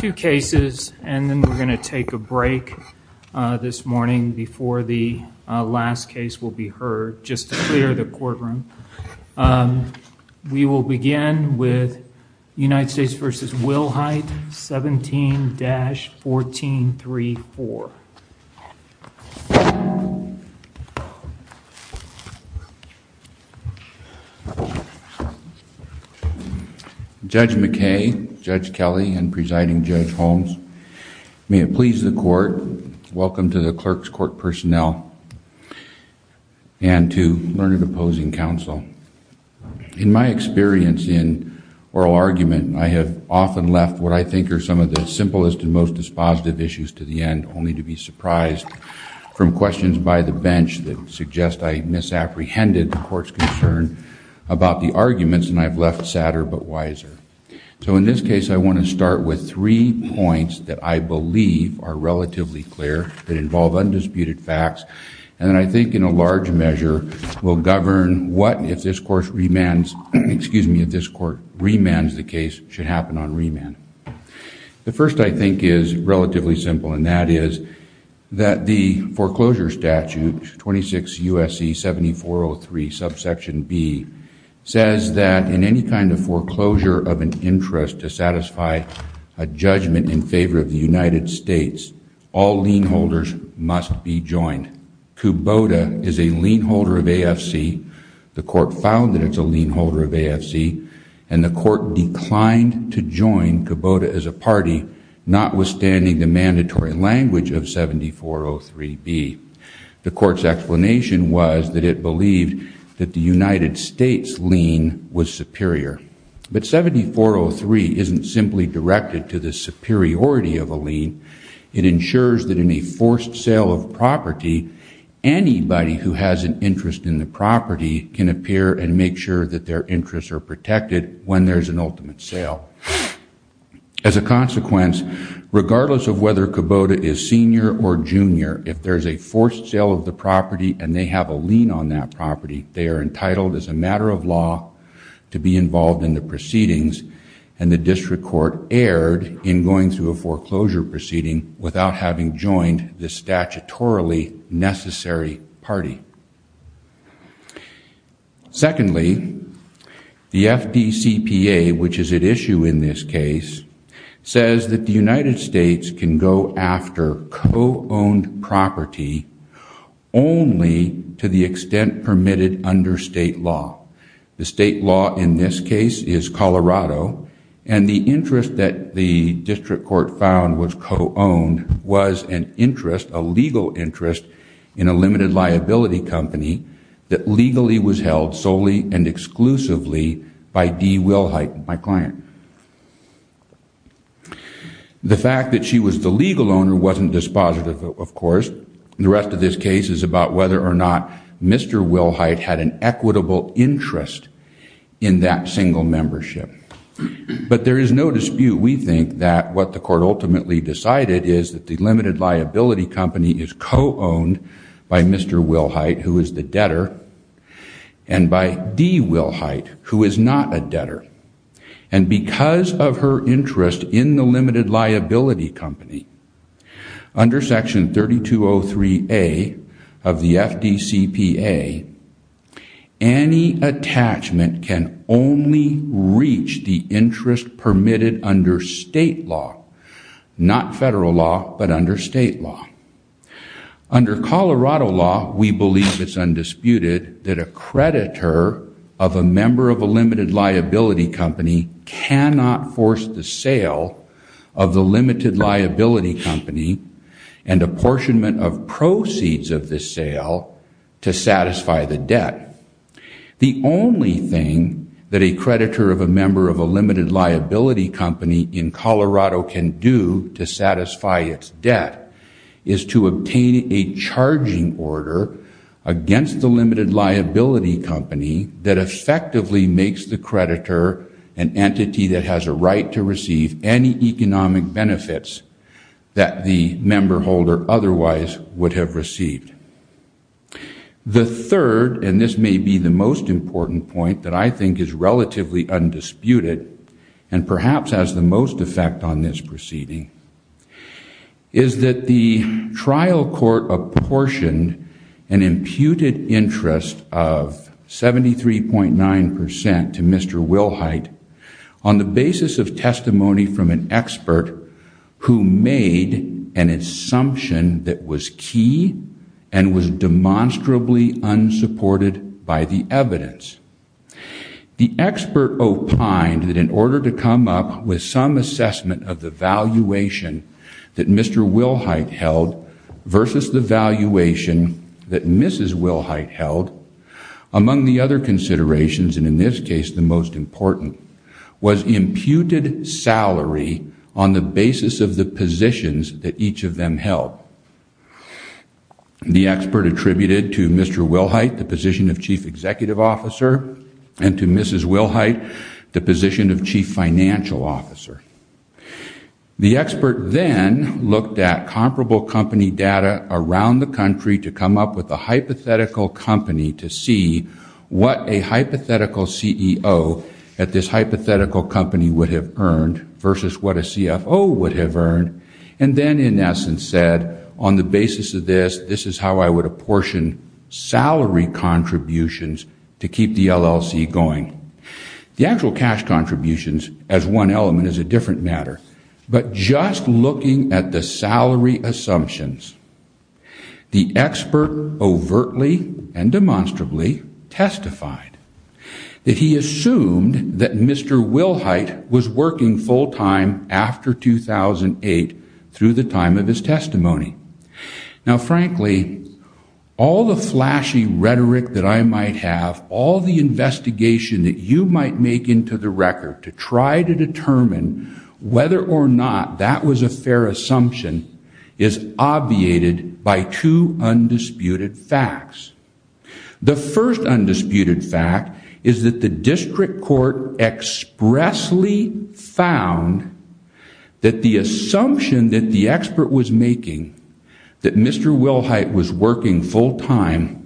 Two cases and then we're going to take a break this morning before the last case will be heard just to clear the courtroom. We will begin with United States v. Wilhite 17-1434. Judge McKay, Judge Kelly, and Presiding Judge Holmes, may it please the court, welcome to the clerk's court personnel and to learned opposing counsel. In my experience in oral argument, I have often left what I think are some of the simplest and most dispositive issues to the end only to be surprised from questions by the bench that suggest I misapprehended the court's concern about the arguments and I've left sadder but wiser. So in this case I want to start with three points that I believe are relatively clear that involve undisputed facts and I think in a large measure will govern what if this court remands the case should happen on remand. The first I think is relatively simple and that is that the foreclosure statute 26 U.S.C. 7403 subsection B says that in any kind of foreclosure of an interest to satisfy a judgment in favor of the United States, all lien holders must be joined. In fact, Kubota is a lien holder of AFC, the court found that it's a lien holder of AFC and the court declined to join Kubota as a party notwithstanding the mandatory language of 7403B. The court's explanation was that it believed that the United States lien was superior. But 7403 isn't simply directed to the superiority of a lien, it ensures that in a forced sale of property, anybody who has an interest in the property can appear and make sure that their interests are protected when there's an ultimate sale. As a consequence, regardless of whether Kubota is senior or junior, if there's a forced sale of the property and they have a lien on that property, they are entitled as a matter of law to be involved in the proceedings and the district court erred in going through a foreclosure proceeding without having joined the statutorily necessary party. Secondly, the FDCPA, which is at issue in this case, says that the United States can go after co-owned property only to the extent permitted under state law. The state law in this case is Colorado and the interest that the district court found was co-owned was an interest, a legal interest, in a limited liability company that legally was held solely and exclusively by Dee Wilhite, my client. The fact that she was the legal owner wasn't dispositive, of course. The rest of this case is about whether or not Mr. Wilhite had an equitable interest in that single membership. But there is no dispute, we think, that what the court ultimately decided is that the limited liability company is co-owned by Mr. Wilhite, who is the debtor, and by Dee Wilhite, who is not a debtor. And because of her interest in the limited liability company, under section 3203A of the FDCPA, any attachment can only reach the interest permitted under state law, not federal law, but under state law. Under Colorado law, we believe it's undisputed that a creditor of a member of a limited liability company cannot force the sale of the limited liability company and apportionment of proceeds of the sale to satisfy the debt. The only thing that a creditor of a member of a limited liability company in Colorado can do to satisfy its debt is to obtain a charging order against the limited liability company that effectively makes the creditor an entity that has a right to receive any economic benefits that the member holder otherwise would have received. The third, and this may be the most important point that I think is relatively undisputed, and perhaps has the most effect on this proceeding, is that the trial court apportioned an imputed interest of 73.9% to Mr. Wilhite on the basis of testimony from an expert who made an assumption that was key, and was demonstrably unsupported by the evidence. The expert opined that in order to come up with some assessment of the valuation that Mr. Wilhite held versus the valuation that Mrs. Wilhite held, among the other considerations, and in this case the most important, was imputed salary on the basis of the positions that each of them held. The expert attributed to Mr. Wilhite the position of Chief Executive Officer, and to Mrs. Wilhite the position of Chief Financial Officer. The expert then looked at comparable company data around the country to come up with a hypothetical company to see what a hypothetical CEO at this hypothetical company would have earned versus what a CFO would have earned, and then in essence said, on the basis of this, this is how I would apportion salary contributions to keep the LLC going. The actual cash contributions as one element is a different matter, but just looking at the salary assumptions, the expert overtly and demonstrably testified that he assumed that Mr. Wilhite was working full time after 2008 through the time of his testimony. Now frankly, all the flashy rhetoric that I might have, all the investigation that you might make into the record to try to determine whether or not that was a fair assumption is obviated by two undisputed facts. The first undisputed fact is that the district court expressly found that the assumption that the expert was making, that Mr. Wilhite was working full time,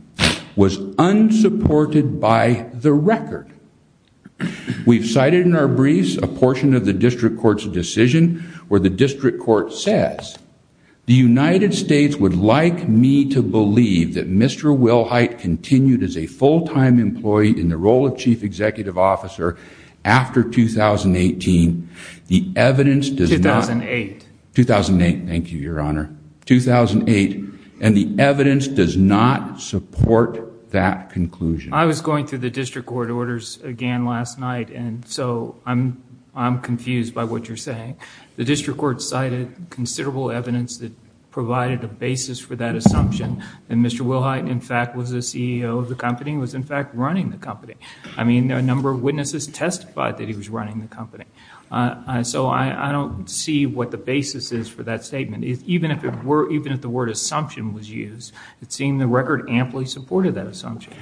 was unsupported by the record. We've cited in our briefs a portion of the district court's decision where the district court says, the United States would like me to believe that Mr. Wilhite continued as a full time employee in the role of Chief Executive Officer after 2018. The evidence does not. 2008. 2008, thank you, Your Honor. 2008, and the evidence does not support that conclusion. I was going through the district court orders again last night, and so I'm confused by what you're saying. The district court cited considerable evidence that provided a basis for that assumption that Mr. Wilhite in fact was the CEO of the company, was in fact running the company. I mean, a number of witnesses testified that he was running the company. So I don't see what the basis is for that statement. Even if the word assumption was used, it seemed the record amply supported that assumption.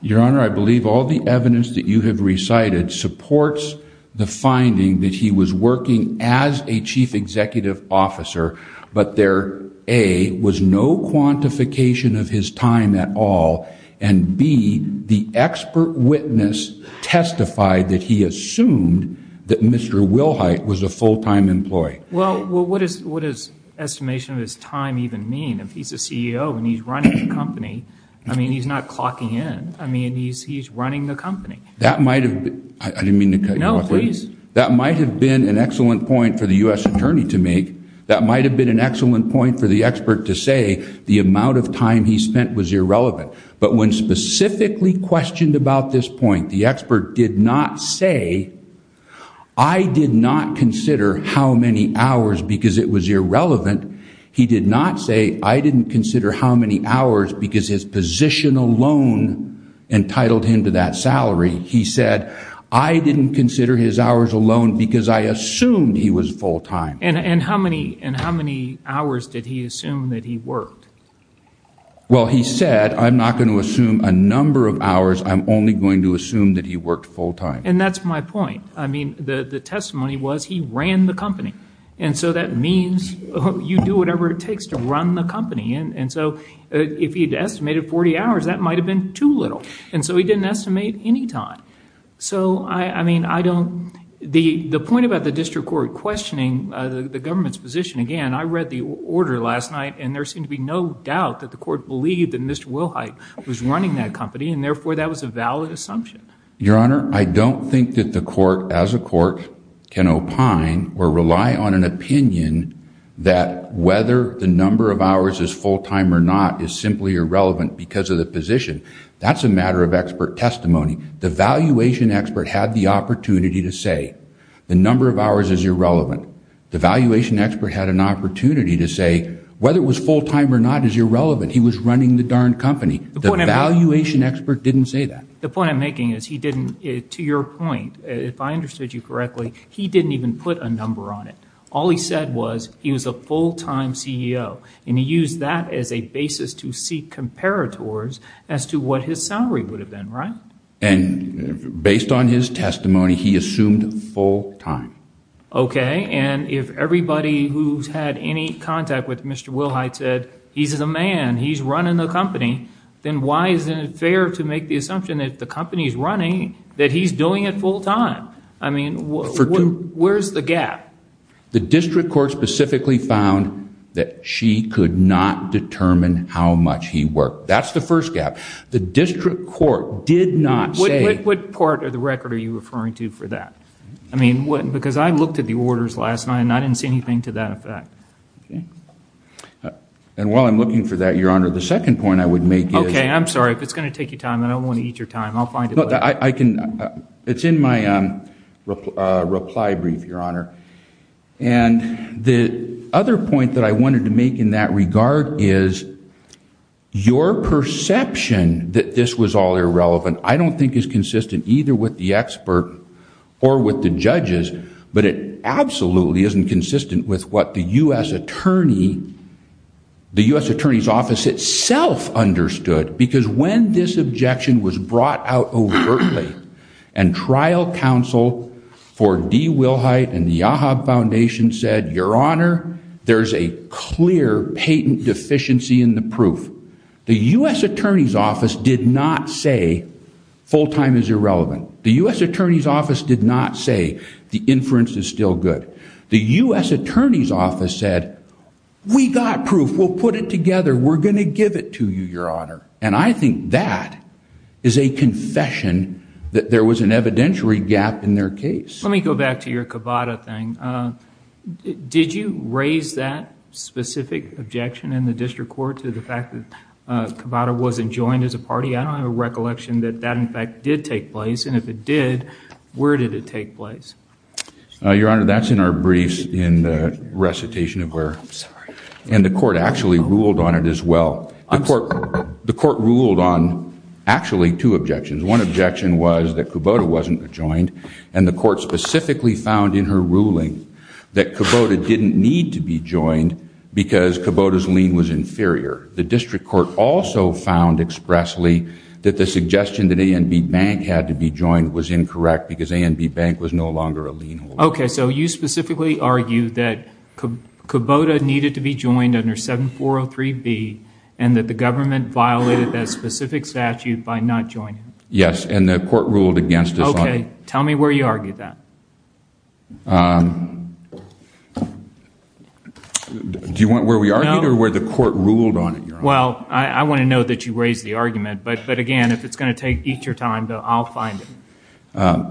Your Honor, I believe all the evidence that you have recited supports the finding that he was working as a Chief Executive Officer, but there, A, was no quantification of his time at all, and B, the expert witness testified that he assumed that Mr. Wilhite was a full time employee. Well, what does estimation of his time even mean? I mean, if he's a CEO and he's running the company, I mean, he's not clocking in. I mean, he's running the company. That might have been, I didn't mean to cut you off. No, please. That might have been an excellent point for the U.S. Attorney to make. That might have been an excellent point for the expert to say the amount of time he spent was irrelevant. But when specifically questioned about this point, the expert did not say, I did not consider how many hours because it was irrelevant. He did not say, I didn't consider how many hours because his position alone entitled him to that salary. He said, I didn't consider his hours alone because I assumed he was full time. And how many hours did he assume that he worked? Well, he said, I'm not going to assume a number of hours. I'm only going to assume that he worked full time. And that's my point. I mean, the testimony was he ran the company. And so that means you do whatever it takes to run the company. And so if he had estimated 40 hours, that might have been too little. And so he didn't estimate any time. So, I mean, I don't, the point about the district court questioning the government's position, again, I read the order last night. And there seemed to be no doubt that the court believed that Mr. Wilhite was running that company. And therefore, that was a valid assumption. Your Honor, I don't think that the court, as a court, can opine or rely on an opinion that whether the number of hours is full time or not is simply irrelevant because of the position. That's a matter of expert testimony. The valuation expert had the opportunity to say the number of hours is irrelevant. The valuation expert had an opportunity to say whether it was full time or not is irrelevant. He was running the darn company. The valuation expert didn't say that. The point I'm making is he didn't, to your point, if I understood you correctly, he didn't even put a number on it. All he said was he was a full time CEO. And he used that as a basis to seek comparators as to what his salary would have been, right? And based on his testimony, he assumed full time. Okay. And if everybody who's had any contact with Mr. Wilhite said he's the man, he's running the company, then why isn't it fair to make the assumption that the company is running, that he's doing it full time? I mean, where's the gap? The district court specifically found that she could not determine how much he worked. That's the first gap. The district court did not say. What part of the record are you referring to for that? I mean, because I looked at the orders last night and I didn't see anything to that effect. Okay. And while I'm looking for that, Your Honor, the second point I would make is. Okay, I'm sorry. If it's going to take your time, I don't want to eat your time. I'll find it later. I can, it's in my reply brief, Your Honor. And the other point that I wanted to make in that regard is your perception that this was all irrelevant, I don't think is consistent either with the expert or with the judges. But it absolutely isn't consistent with what the U.S. Attorney, the U.S. Attorney's Office itself understood. Because when this objection was brought out overtly and trial counsel for Dee Wilhite and the Yahab Foundation said, Your Honor, there's a clear patent deficiency in the proof. The U.S. Attorney's Office did not say full-time is irrelevant. The U.S. Attorney's Office did not say the inference is still good. The U.S. Attorney's Office said, we got proof. We'll put it together. We're going to give it to you, Your Honor. And I think that is a confession that there was an evidentiary gap in their case. Let me go back to your Cavada thing. Did you raise that specific objection in the district court to the fact that Cavada wasn't joined as a party? I don't have a recollection that that, in fact, did take place. And if it did, where did it take place? Your Honor, that's in our briefs in the recitation of where. I'm sorry. And the court actually ruled on it as well. The court ruled on actually two objections. One objection was that Cavada wasn't joined and the court specifically found in her ruling that Cavada didn't need to be joined because Cavada's lien was inferior. The district court also found expressly that the suggestion that A&B Bank had to be joined was incorrect because A&B Bank was no longer a lien holder. Okay, so you specifically argued that Cavada needed to be joined under 7403B and that the government violated that specific statute by not joining. Yes, and the court ruled against us on it. Okay, tell me where you argued that. Do you want where we argued or where the court ruled on it, Your Honor? Well, I want to know that you raised the argument, but again, if it's going to eat your time, I'll find it.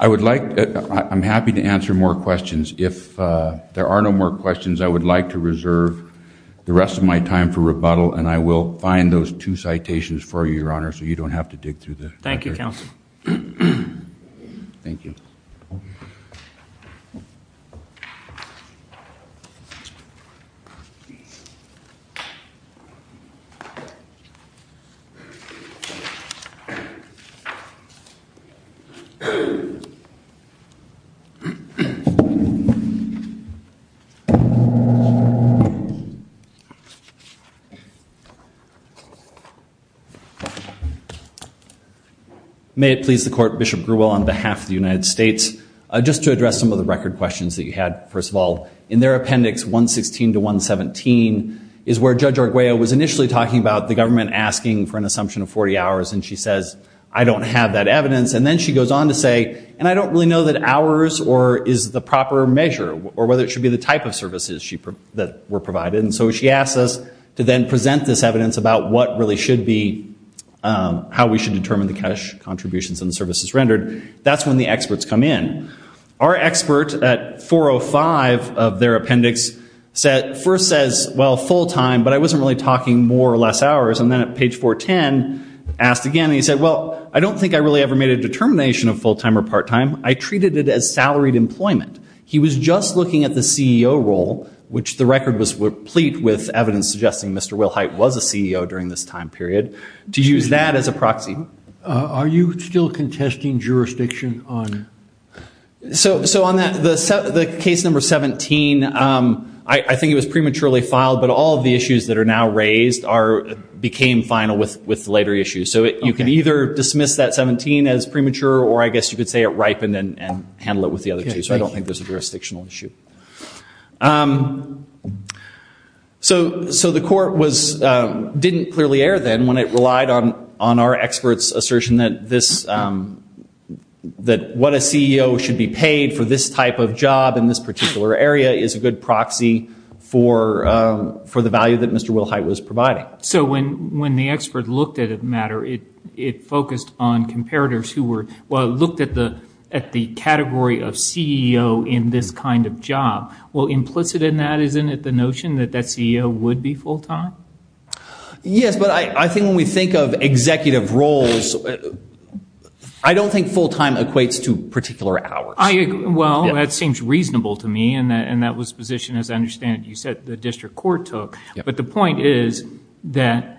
I would like, I'm happy to answer more questions. If there are no more questions, I would like to reserve the rest of my time for rebuttal and I will find those two citations for you, Your Honor, so you don't have to dig through them. Thank you, Counsel. Thank you. May it please the court, Bishop Grewell on behalf of the United States, just to address some of the record questions that you had. First of all, in their appendix 116 to 117 is where Judge Arguello was initially talking about the government asking for an assumption of 40 hours and she says, I don't have that evidence. And then she goes on to say, and I don't really know that hours is the proper measure or whether it should be the type of services that were provided. And so she asks us to then present this evidence about what really should be, how we should determine the cash contributions and the services rendered. That's when the experts come in. Our expert at 405 of their appendix first says, well, full time, but I wasn't really talking more or less hours. And then at page 410, asked again, and he said, well, I don't think I really ever made a determination of full time or part time. I treated it as salaried employment. He was just looking at the CEO role, which the record was replete with evidence suggesting Mr. Will Hite was a CEO during this time period, to use that as a proxy. Are you still contesting jurisdiction on? So on the case number 17, I think it was prematurely filed, but all of the issues that are now raised became final with later issues. So you can either dismiss that 17 as premature, or I guess you could say it ripened and handle it with the other two. So I don't think there's a jurisdictional issue. So the court didn't clearly err then when it relied on our experts' assertion that what a CEO should be paid for this type of job in this particular area is a good proxy for the value that Mr. Will Hite was providing. So when the expert looked at it, Matt, it focused on comparators who looked at the category of CEO in this kind of job. Well, implicit in that isn't it the notion that that CEO would be full time? Yes, but I think when we think of executive roles, I don't think full time equates to particular hours. Well, that seems reasonable to me, and that was a position, as I understand it, you said the district court took. But the point is that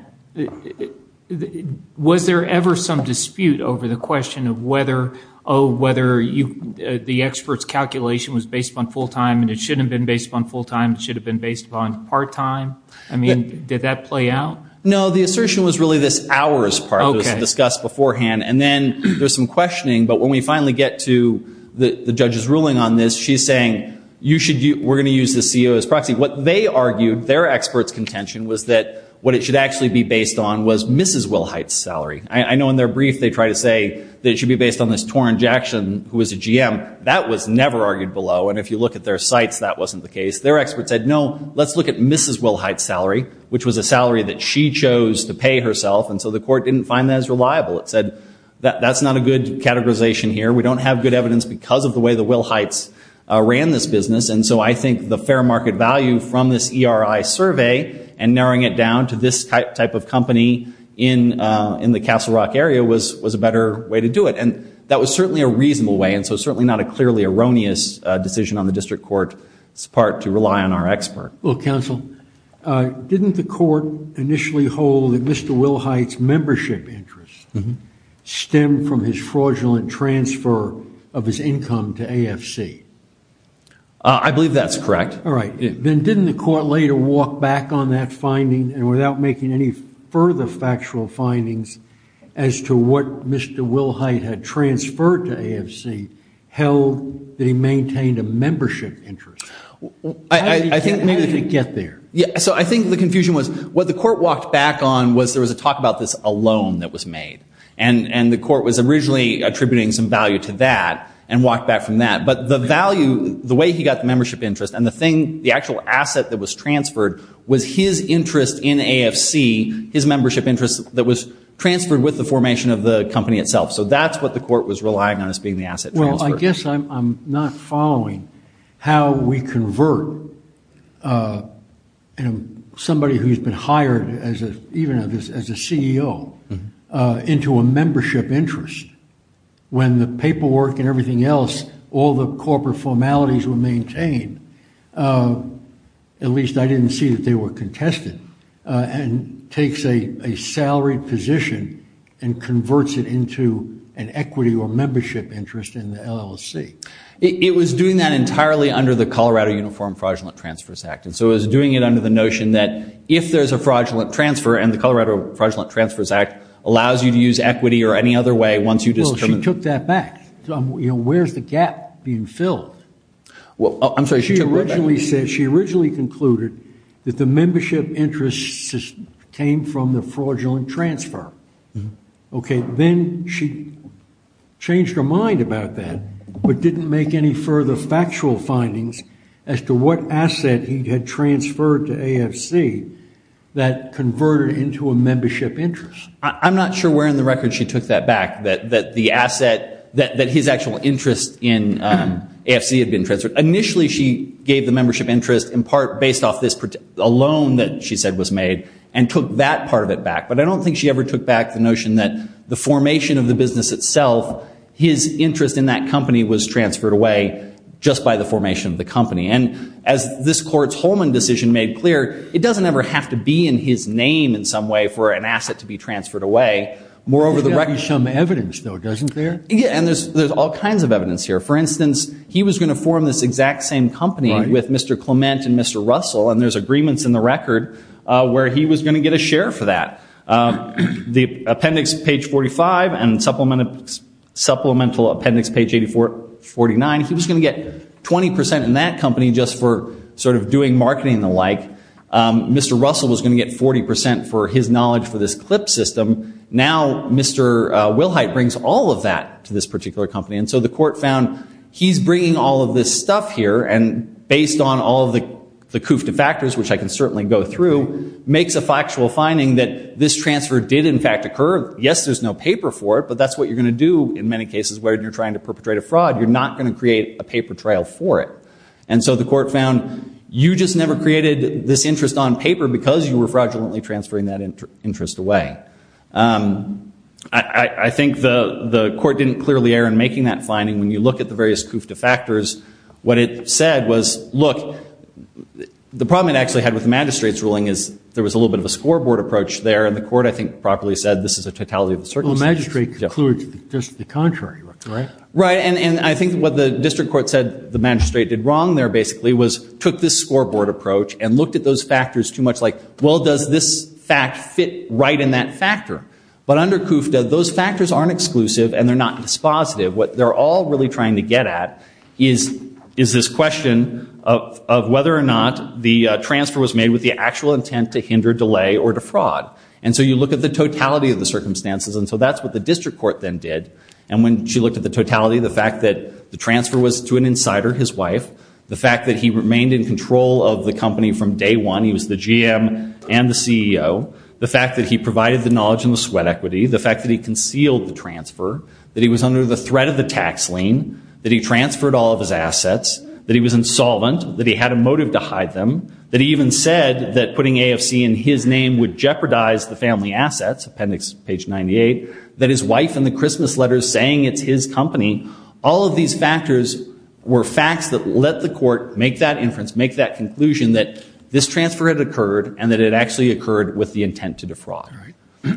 was there ever some dispute over the question of whether the expert's calculation was based upon full time and it shouldn't have been based upon full time, it should have been based upon part time? I mean, did that play out? No, the assertion was really this hours part that was discussed beforehand. And then there's some questioning, but when we finally get to the judge's ruling on this, she's saying we're going to use the CEO as proxy. What they argued, their expert's contention, was that what it should actually be based on was Mrs. Will Hite's salary. I know in their brief they try to say that it should be based on this Torren Jackson who was a GM. That was never argued below, and if you look at their sites, that wasn't the case. Their expert said, no, let's look at Mrs. Will Hite's salary, which was a salary that she chose to pay herself, and so the court didn't find that as reliable. It said that's not a good categorization here. We don't have good evidence because of the way that Will Hite ran this business. And so I think the fair market value from this ERI survey and narrowing it down to this type of company in the Castle Rock area was a better way to do it. And that was certainly a reasonable way, and so certainly not a clearly erroneous decision on the district court's part to rely on our expert. Well, counsel, didn't the court initially hold that Mr. Will Hite's membership interests stem from his fraudulent transfer of his income to AFC? I believe that's correct. Then didn't the court later walk back on that finding and without making any further factual findings as to what Mr. Will Hite had transferred to AFC held that he maintained a membership interest? How did it get there? So I think the confusion was what the court walked back on was there was a talk about this alone that was made. And the court was originally attributing some value to that and walked back from that. The value, the way he got the membership interest and the thing, the actual asset that was transferred was his interest in AFC, his membership interest that was transferred with the formation of the company itself. So that's what the court was relying on as being the asset transfer. Well, I guess I'm not following how we convert somebody who's been hired even as a CEO into a membership interest. When the paperwork and everything else, all the corporate formalities were maintained, at least I didn't see that they were contested, and takes a salaried position and converts it into an equity or membership interest in the LLC. It was doing that entirely under the Colorado Uniform Fraudulent Transfers Act. And so it was doing it under the notion that if there's a fraudulent transfer and the Colorado Fraudulent Transfers Act allows you to use equity or any other way once you determine- Well, she took that back. Where's the gap being filled? I'm sorry, she took that back. She originally concluded that the membership interest came from the fraudulent transfer. Okay, then she changed her mind about that, but didn't make any further factual findings as to what asset he had transferred to AFC that converted into a membership interest. I'm not sure where in the record she took that back, that the asset, that his actual interest in AFC had been transferred. Initially, she gave the membership interest in part based off a loan that she said was made and took that part of it back. But I don't think she ever took back the notion that the formation of the business itself, his interest in that company was transferred away just by the formation of the company. And as this court's Holman decision made clear, it doesn't ever have to be in his name in some way for an asset to be transferred away. There's got to be some evidence, though, doesn't there? Yeah, and there's all kinds of evidence here. For instance, he was going to form this exact same company with Mr. Clement and Mr. Russell, and there's agreements in the record where he was going to get a share for that. The appendix, page 45, and supplemental appendix, page 89, he was going to get 20% in that company just for sort of doing marketing and the like. Mr. Russell was going to get 40% for his knowledge for this CLIP system. Now, Mr. Wilhite brings all of that to this particular company. And so the court found he's bringing all of this stuff here, and based on all of the coup de factors, which I can certainly go through, makes a factual finding that this transfer did in fact occur. Yes, there's no paper for it, but that's what you're going to do in many cases where you're trying to perpetrate a fraud. You're not going to create a paper trail for it. And so the court found you just never created this interest on paper because you were fraudulently transferring that interest away. I think the court didn't clearly err in making that finding. When you look at the various coup de factors, what it said was, look, the problem it actually had with the magistrate's ruling is there was a little bit of a scoreboard approach there, and the court, I think, properly said this is a totality of the circumstances. Well, the magistrate concluded just the contrary, right? Right, and I think what the district court said the magistrate did wrong there basically was took this scoreboard approach and looked at those factors too much like, well, does this fact fit right in that case? Does that factor? But under CUFTA, those factors aren't exclusive and they're not dispositive. What they're all really trying to get at is this question of whether or not the transfer was made with the actual intent to hinder, delay, or defraud. And so you look at the totality of the circumstances, and so that's what the district court then did. And when she looked at the totality, the fact that the transfer was to an insider, his wife, the fact that he remained in control of the company from day one, he was the GM and the CEO, the fact that he provided the knowledge and the sweat equity, the fact that he concealed the transfer, that he was under the threat of the tax lien, that he transferred all of his assets, that he was insolvent, that he had a motive to hide them, that he even said that putting AFC in his name would jeopardize the family assets, appendix page 98, that his wife in the Christmas letters saying it's his company, all of these factors were facts that let the court make that inference, make that conclusion that this transfer had occurred and that it actually occurred with the intent to defraud.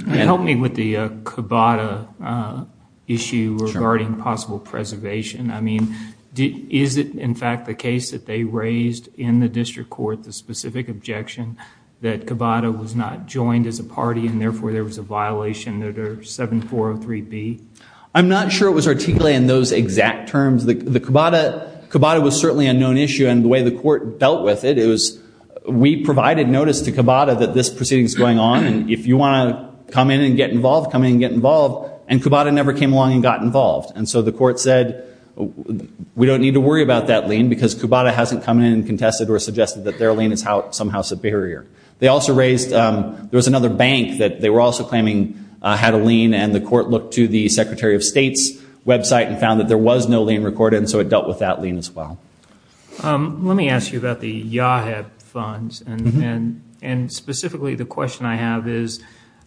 Help me with the Cabada issue regarding possible preservation. I mean, is it in fact the case that they raised in the district court, the specific objection, that Cabada was not joined as a party and therefore there was a violation under 7403B? I'm not sure it was articulated in those exact terms. The Cabada was certainly a known issue and the way the court dealt with it, it was we provided notice to Cabada that this proceeding is going on and if you want to come in and get involved, come in and get involved and Cabada never came along and got involved. And so the court said we don't need to worry about that lien because Cabada hasn't come in and contested or suggested that their lien is somehow superior. They also raised, there was another bank that they were also claiming had a lien and the court looked to the Secretary of State's website and found that there was no lien recorded and so it dealt with that lien as well. Let me ask you about the YAHEB funds and specifically the question I have is,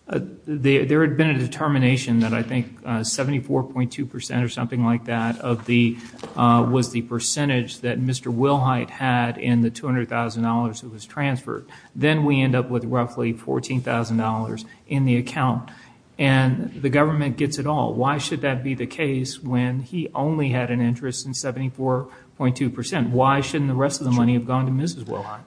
there had been a determination that I think 74.2% or something like that was the percentage that Mr. Wilhite had in the $200,000 that was transferred. Then we end up with roughly $14,000 in the account. And the government gets it all. Why should that be the case when he only had an interest in 74.2%? Why shouldn't the rest of the money have gone to Mrs. Wilhite?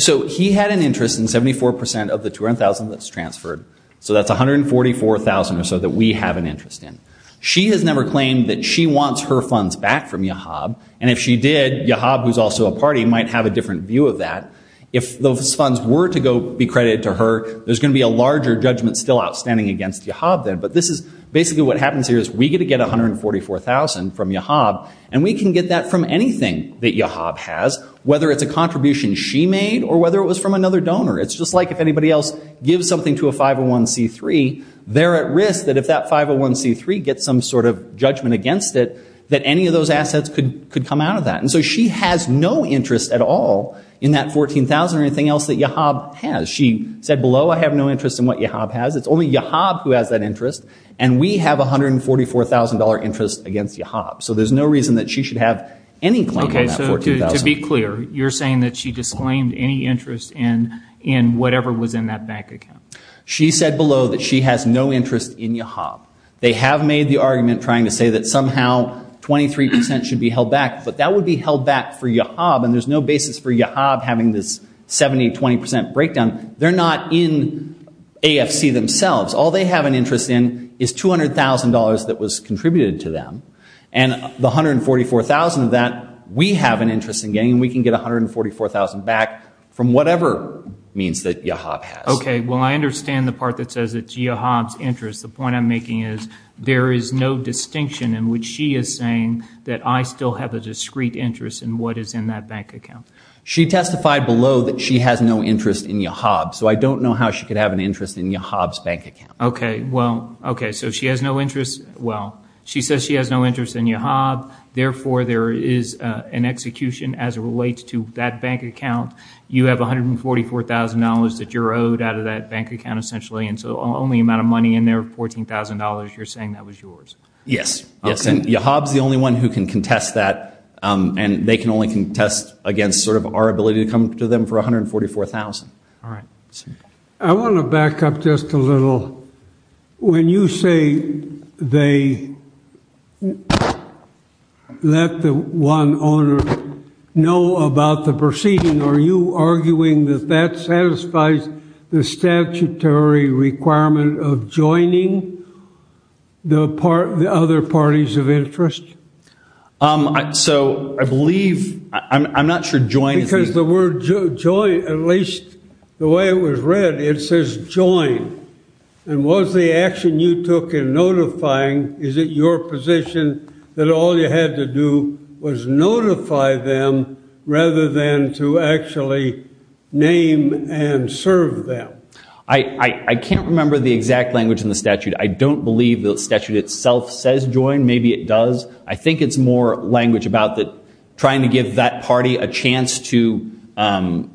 So he had an interest in 74% of the $200,000 that was transferred. So that's $144,000 or so that we have an interest in. She has never claimed that she wants her funds back from YAHEB and if she did, YAHEB, who's also a party, might have a different view of that. If those funds were to go be credited to her, there's going to be a larger judgment still outstanding against YAHEB then. But this is basically what happens here is we get to get $144,000 from YAHEB and we can get that from anything that YAHEB has, whether it's a contribution she made or whether it was from another donor. It's just like if anybody else gives something to a 501c3, they're at risk that if that 501c3 gets some sort of judgment against it, that any of those assets could come out of that. And so she has no interest at all in that $14,000 or anything else that YAHEB has. She said below, I have no interest in what YAHEB has. It's only YAHEB who has that interest and we have $144,000 interest against YAHEB. So there's no reason that she should have any claim on that $14,000. Okay, so to be clear, you're saying that she disclaimed any interest in whatever was in that bank account. She said below that she has no interest in YAHEB. They have made the argument trying to say that somehow 23% should be held back, but that would be held back for YAHEB and there's no basis for YAHEB having this 70-20% breakdown. They're not in AFC themselves. All they have an interest in is $200,000 that was contributed to them and the $144,000 of that we have an interest in getting and we can get $144,000 back from whatever means that YAHEB has. Okay, well I understand the part that says it's YAHEB's interest. The point I'm making is there is no distinction in which she is saying that I still have a discreet interest in what is in that bank account. She testified below that she has no interest in YAHEB, so I don't know how she could have an interest in YAHEB's bank account. Okay, well, okay, so she has no interest. Well, she says she has no interest in YAHEB. Therefore, there is an execution as it relates to that bank account. You have $144,000 that you're owed out of that bank account essentially and so the only amount of money in there, $14,000, you're saying that was yours? Yes, yes, and YAHEB is the only one who can contest that and they can only contest against sort of our ability to come to them for $144,000. All right. I want to back up just a little. When you say they let the one owner know about the proceeding, are you arguing that that satisfies the statutory requirement of joining the other parties of interest? So I believe, I'm not sure join is the… Because the word join, at least the way it was read, it says join. And was the action you took in notifying, is it your position that all you had to do was notify them rather than to actually name and serve them? I can't remember the exact language in the statute. I don't believe the statute itself says join. Maybe it does. I think it's more language about trying to give that party a chance to… that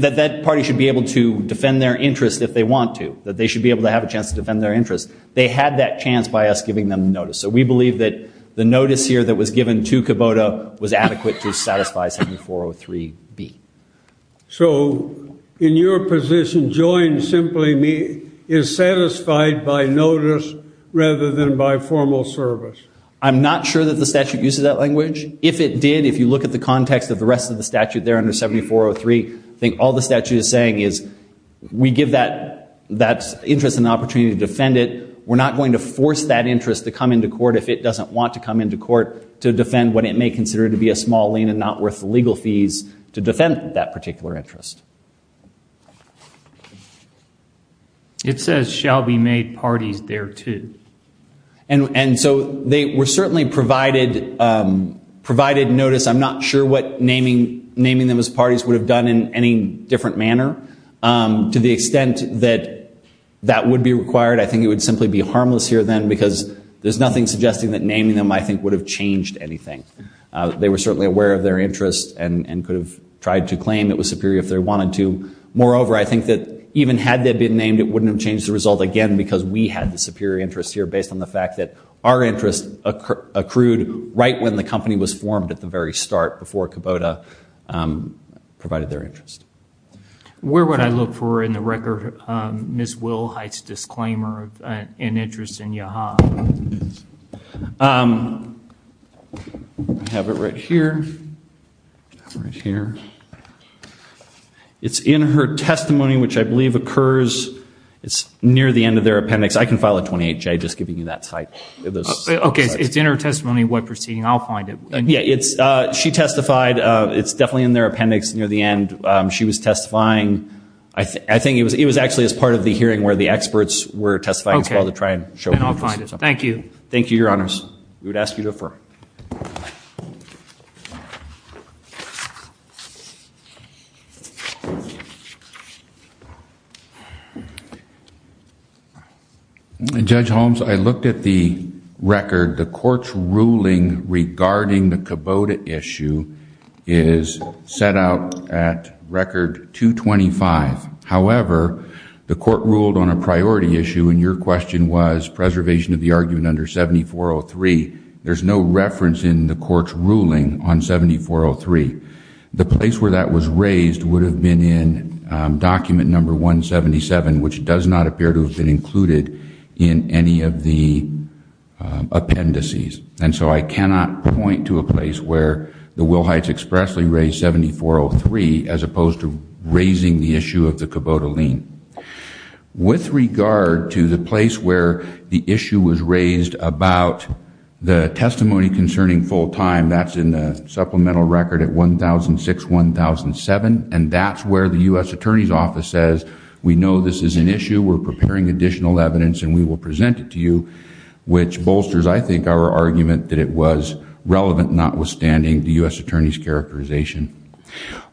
that party should be able to defend their interest if they want to, that they should be able to have a chance to defend their interest. They had that chance by us giving them notice. So we believe that the notice here that was given to Kubota was adequate to satisfy 7403B. So in your position, join simply is satisfied by notice rather than by formal service. I'm not sure that the statute uses that language. If it did, if you look at the context of the rest of the statute there under 7403, I think all the statute is saying is we give that interest an opportunity to defend it. We're not going to force that interest to come into court if it doesn't want to come into court to defend what it may consider to be a small lien and not worth the legal fees to defend that particular interest. It says shall be made parties thereto. And so they were certainly provided notice. I'm not sure what naming them as parties would have done in any different manner. To the extent that that would be required, I think it would simply be harmless here then because there's nothing suggesting that naming them, I think, would have changed anything. They were certainly aware of their interest and could have tried to claim it was superior if they wanted to. Moreover, I think that even had they been named, it wouldn't have changed the result again because we had the superior interest here based on the fact that our interest accrued right when the company was formed at the very start before Kubota provided their interest. Where would I look for in the record Ms. Wilhite's disclaimer of an interest in Yaha? I have it right here. Right here. It's in her testimony, which I believe occurs. It's near the end of their appendix. I can file a 28-J just giving you that cite. Okay. It's in her testimony. What proceeding? I'll find it. Yeah. She testified. It's definitely in their appendix near the end. She was testifying. I think it was actually as part of the hearing where the experts were testifying as well to try and show interest. Okay. And I'll find it. Thank you. Thank you, Your Honors. We would ask you to affirm. Judge Holmes, I looked at the record. The court's ruling regarding the Kubota issue is set out at record 225. However, the court ruled on a priority issue and your question was preservation of the argument under 7403. There's no reference in the court's ruling on 7403. The place where that was raised would have been in document number 177, which does not appear to have been included in any of the appendices. And so I cannot point to a place where the Wilhites expressly raised 7403 as opposed to raising the issue of the Kubota lien. With regard to the place where the issue was raised about the testimony concerning full time, that's in the supplemental record at 1006-1007, and that's where the U.S. Attorney's Office says we know this is an issue. We're preparing additional evidence and we will present it to you, which bolsters, I think, our argument that it was relevant notwithstanding the U.S. Attorney's characterization.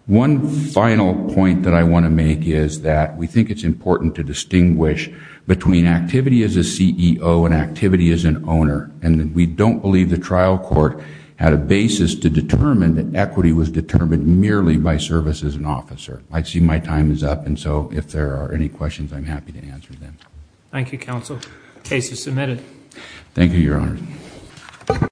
One final point that I want to make is that we think it's important to distinguish between activity as a CEO and activity as an owner. And we don't believe the trial court had a basis to determine that equity was determined merely by service as an officer. I see my time is up, and so if there are any questions, I'm happy to answer them. Thank you, Counsel. Case is submitted. Thank you, Your Honor.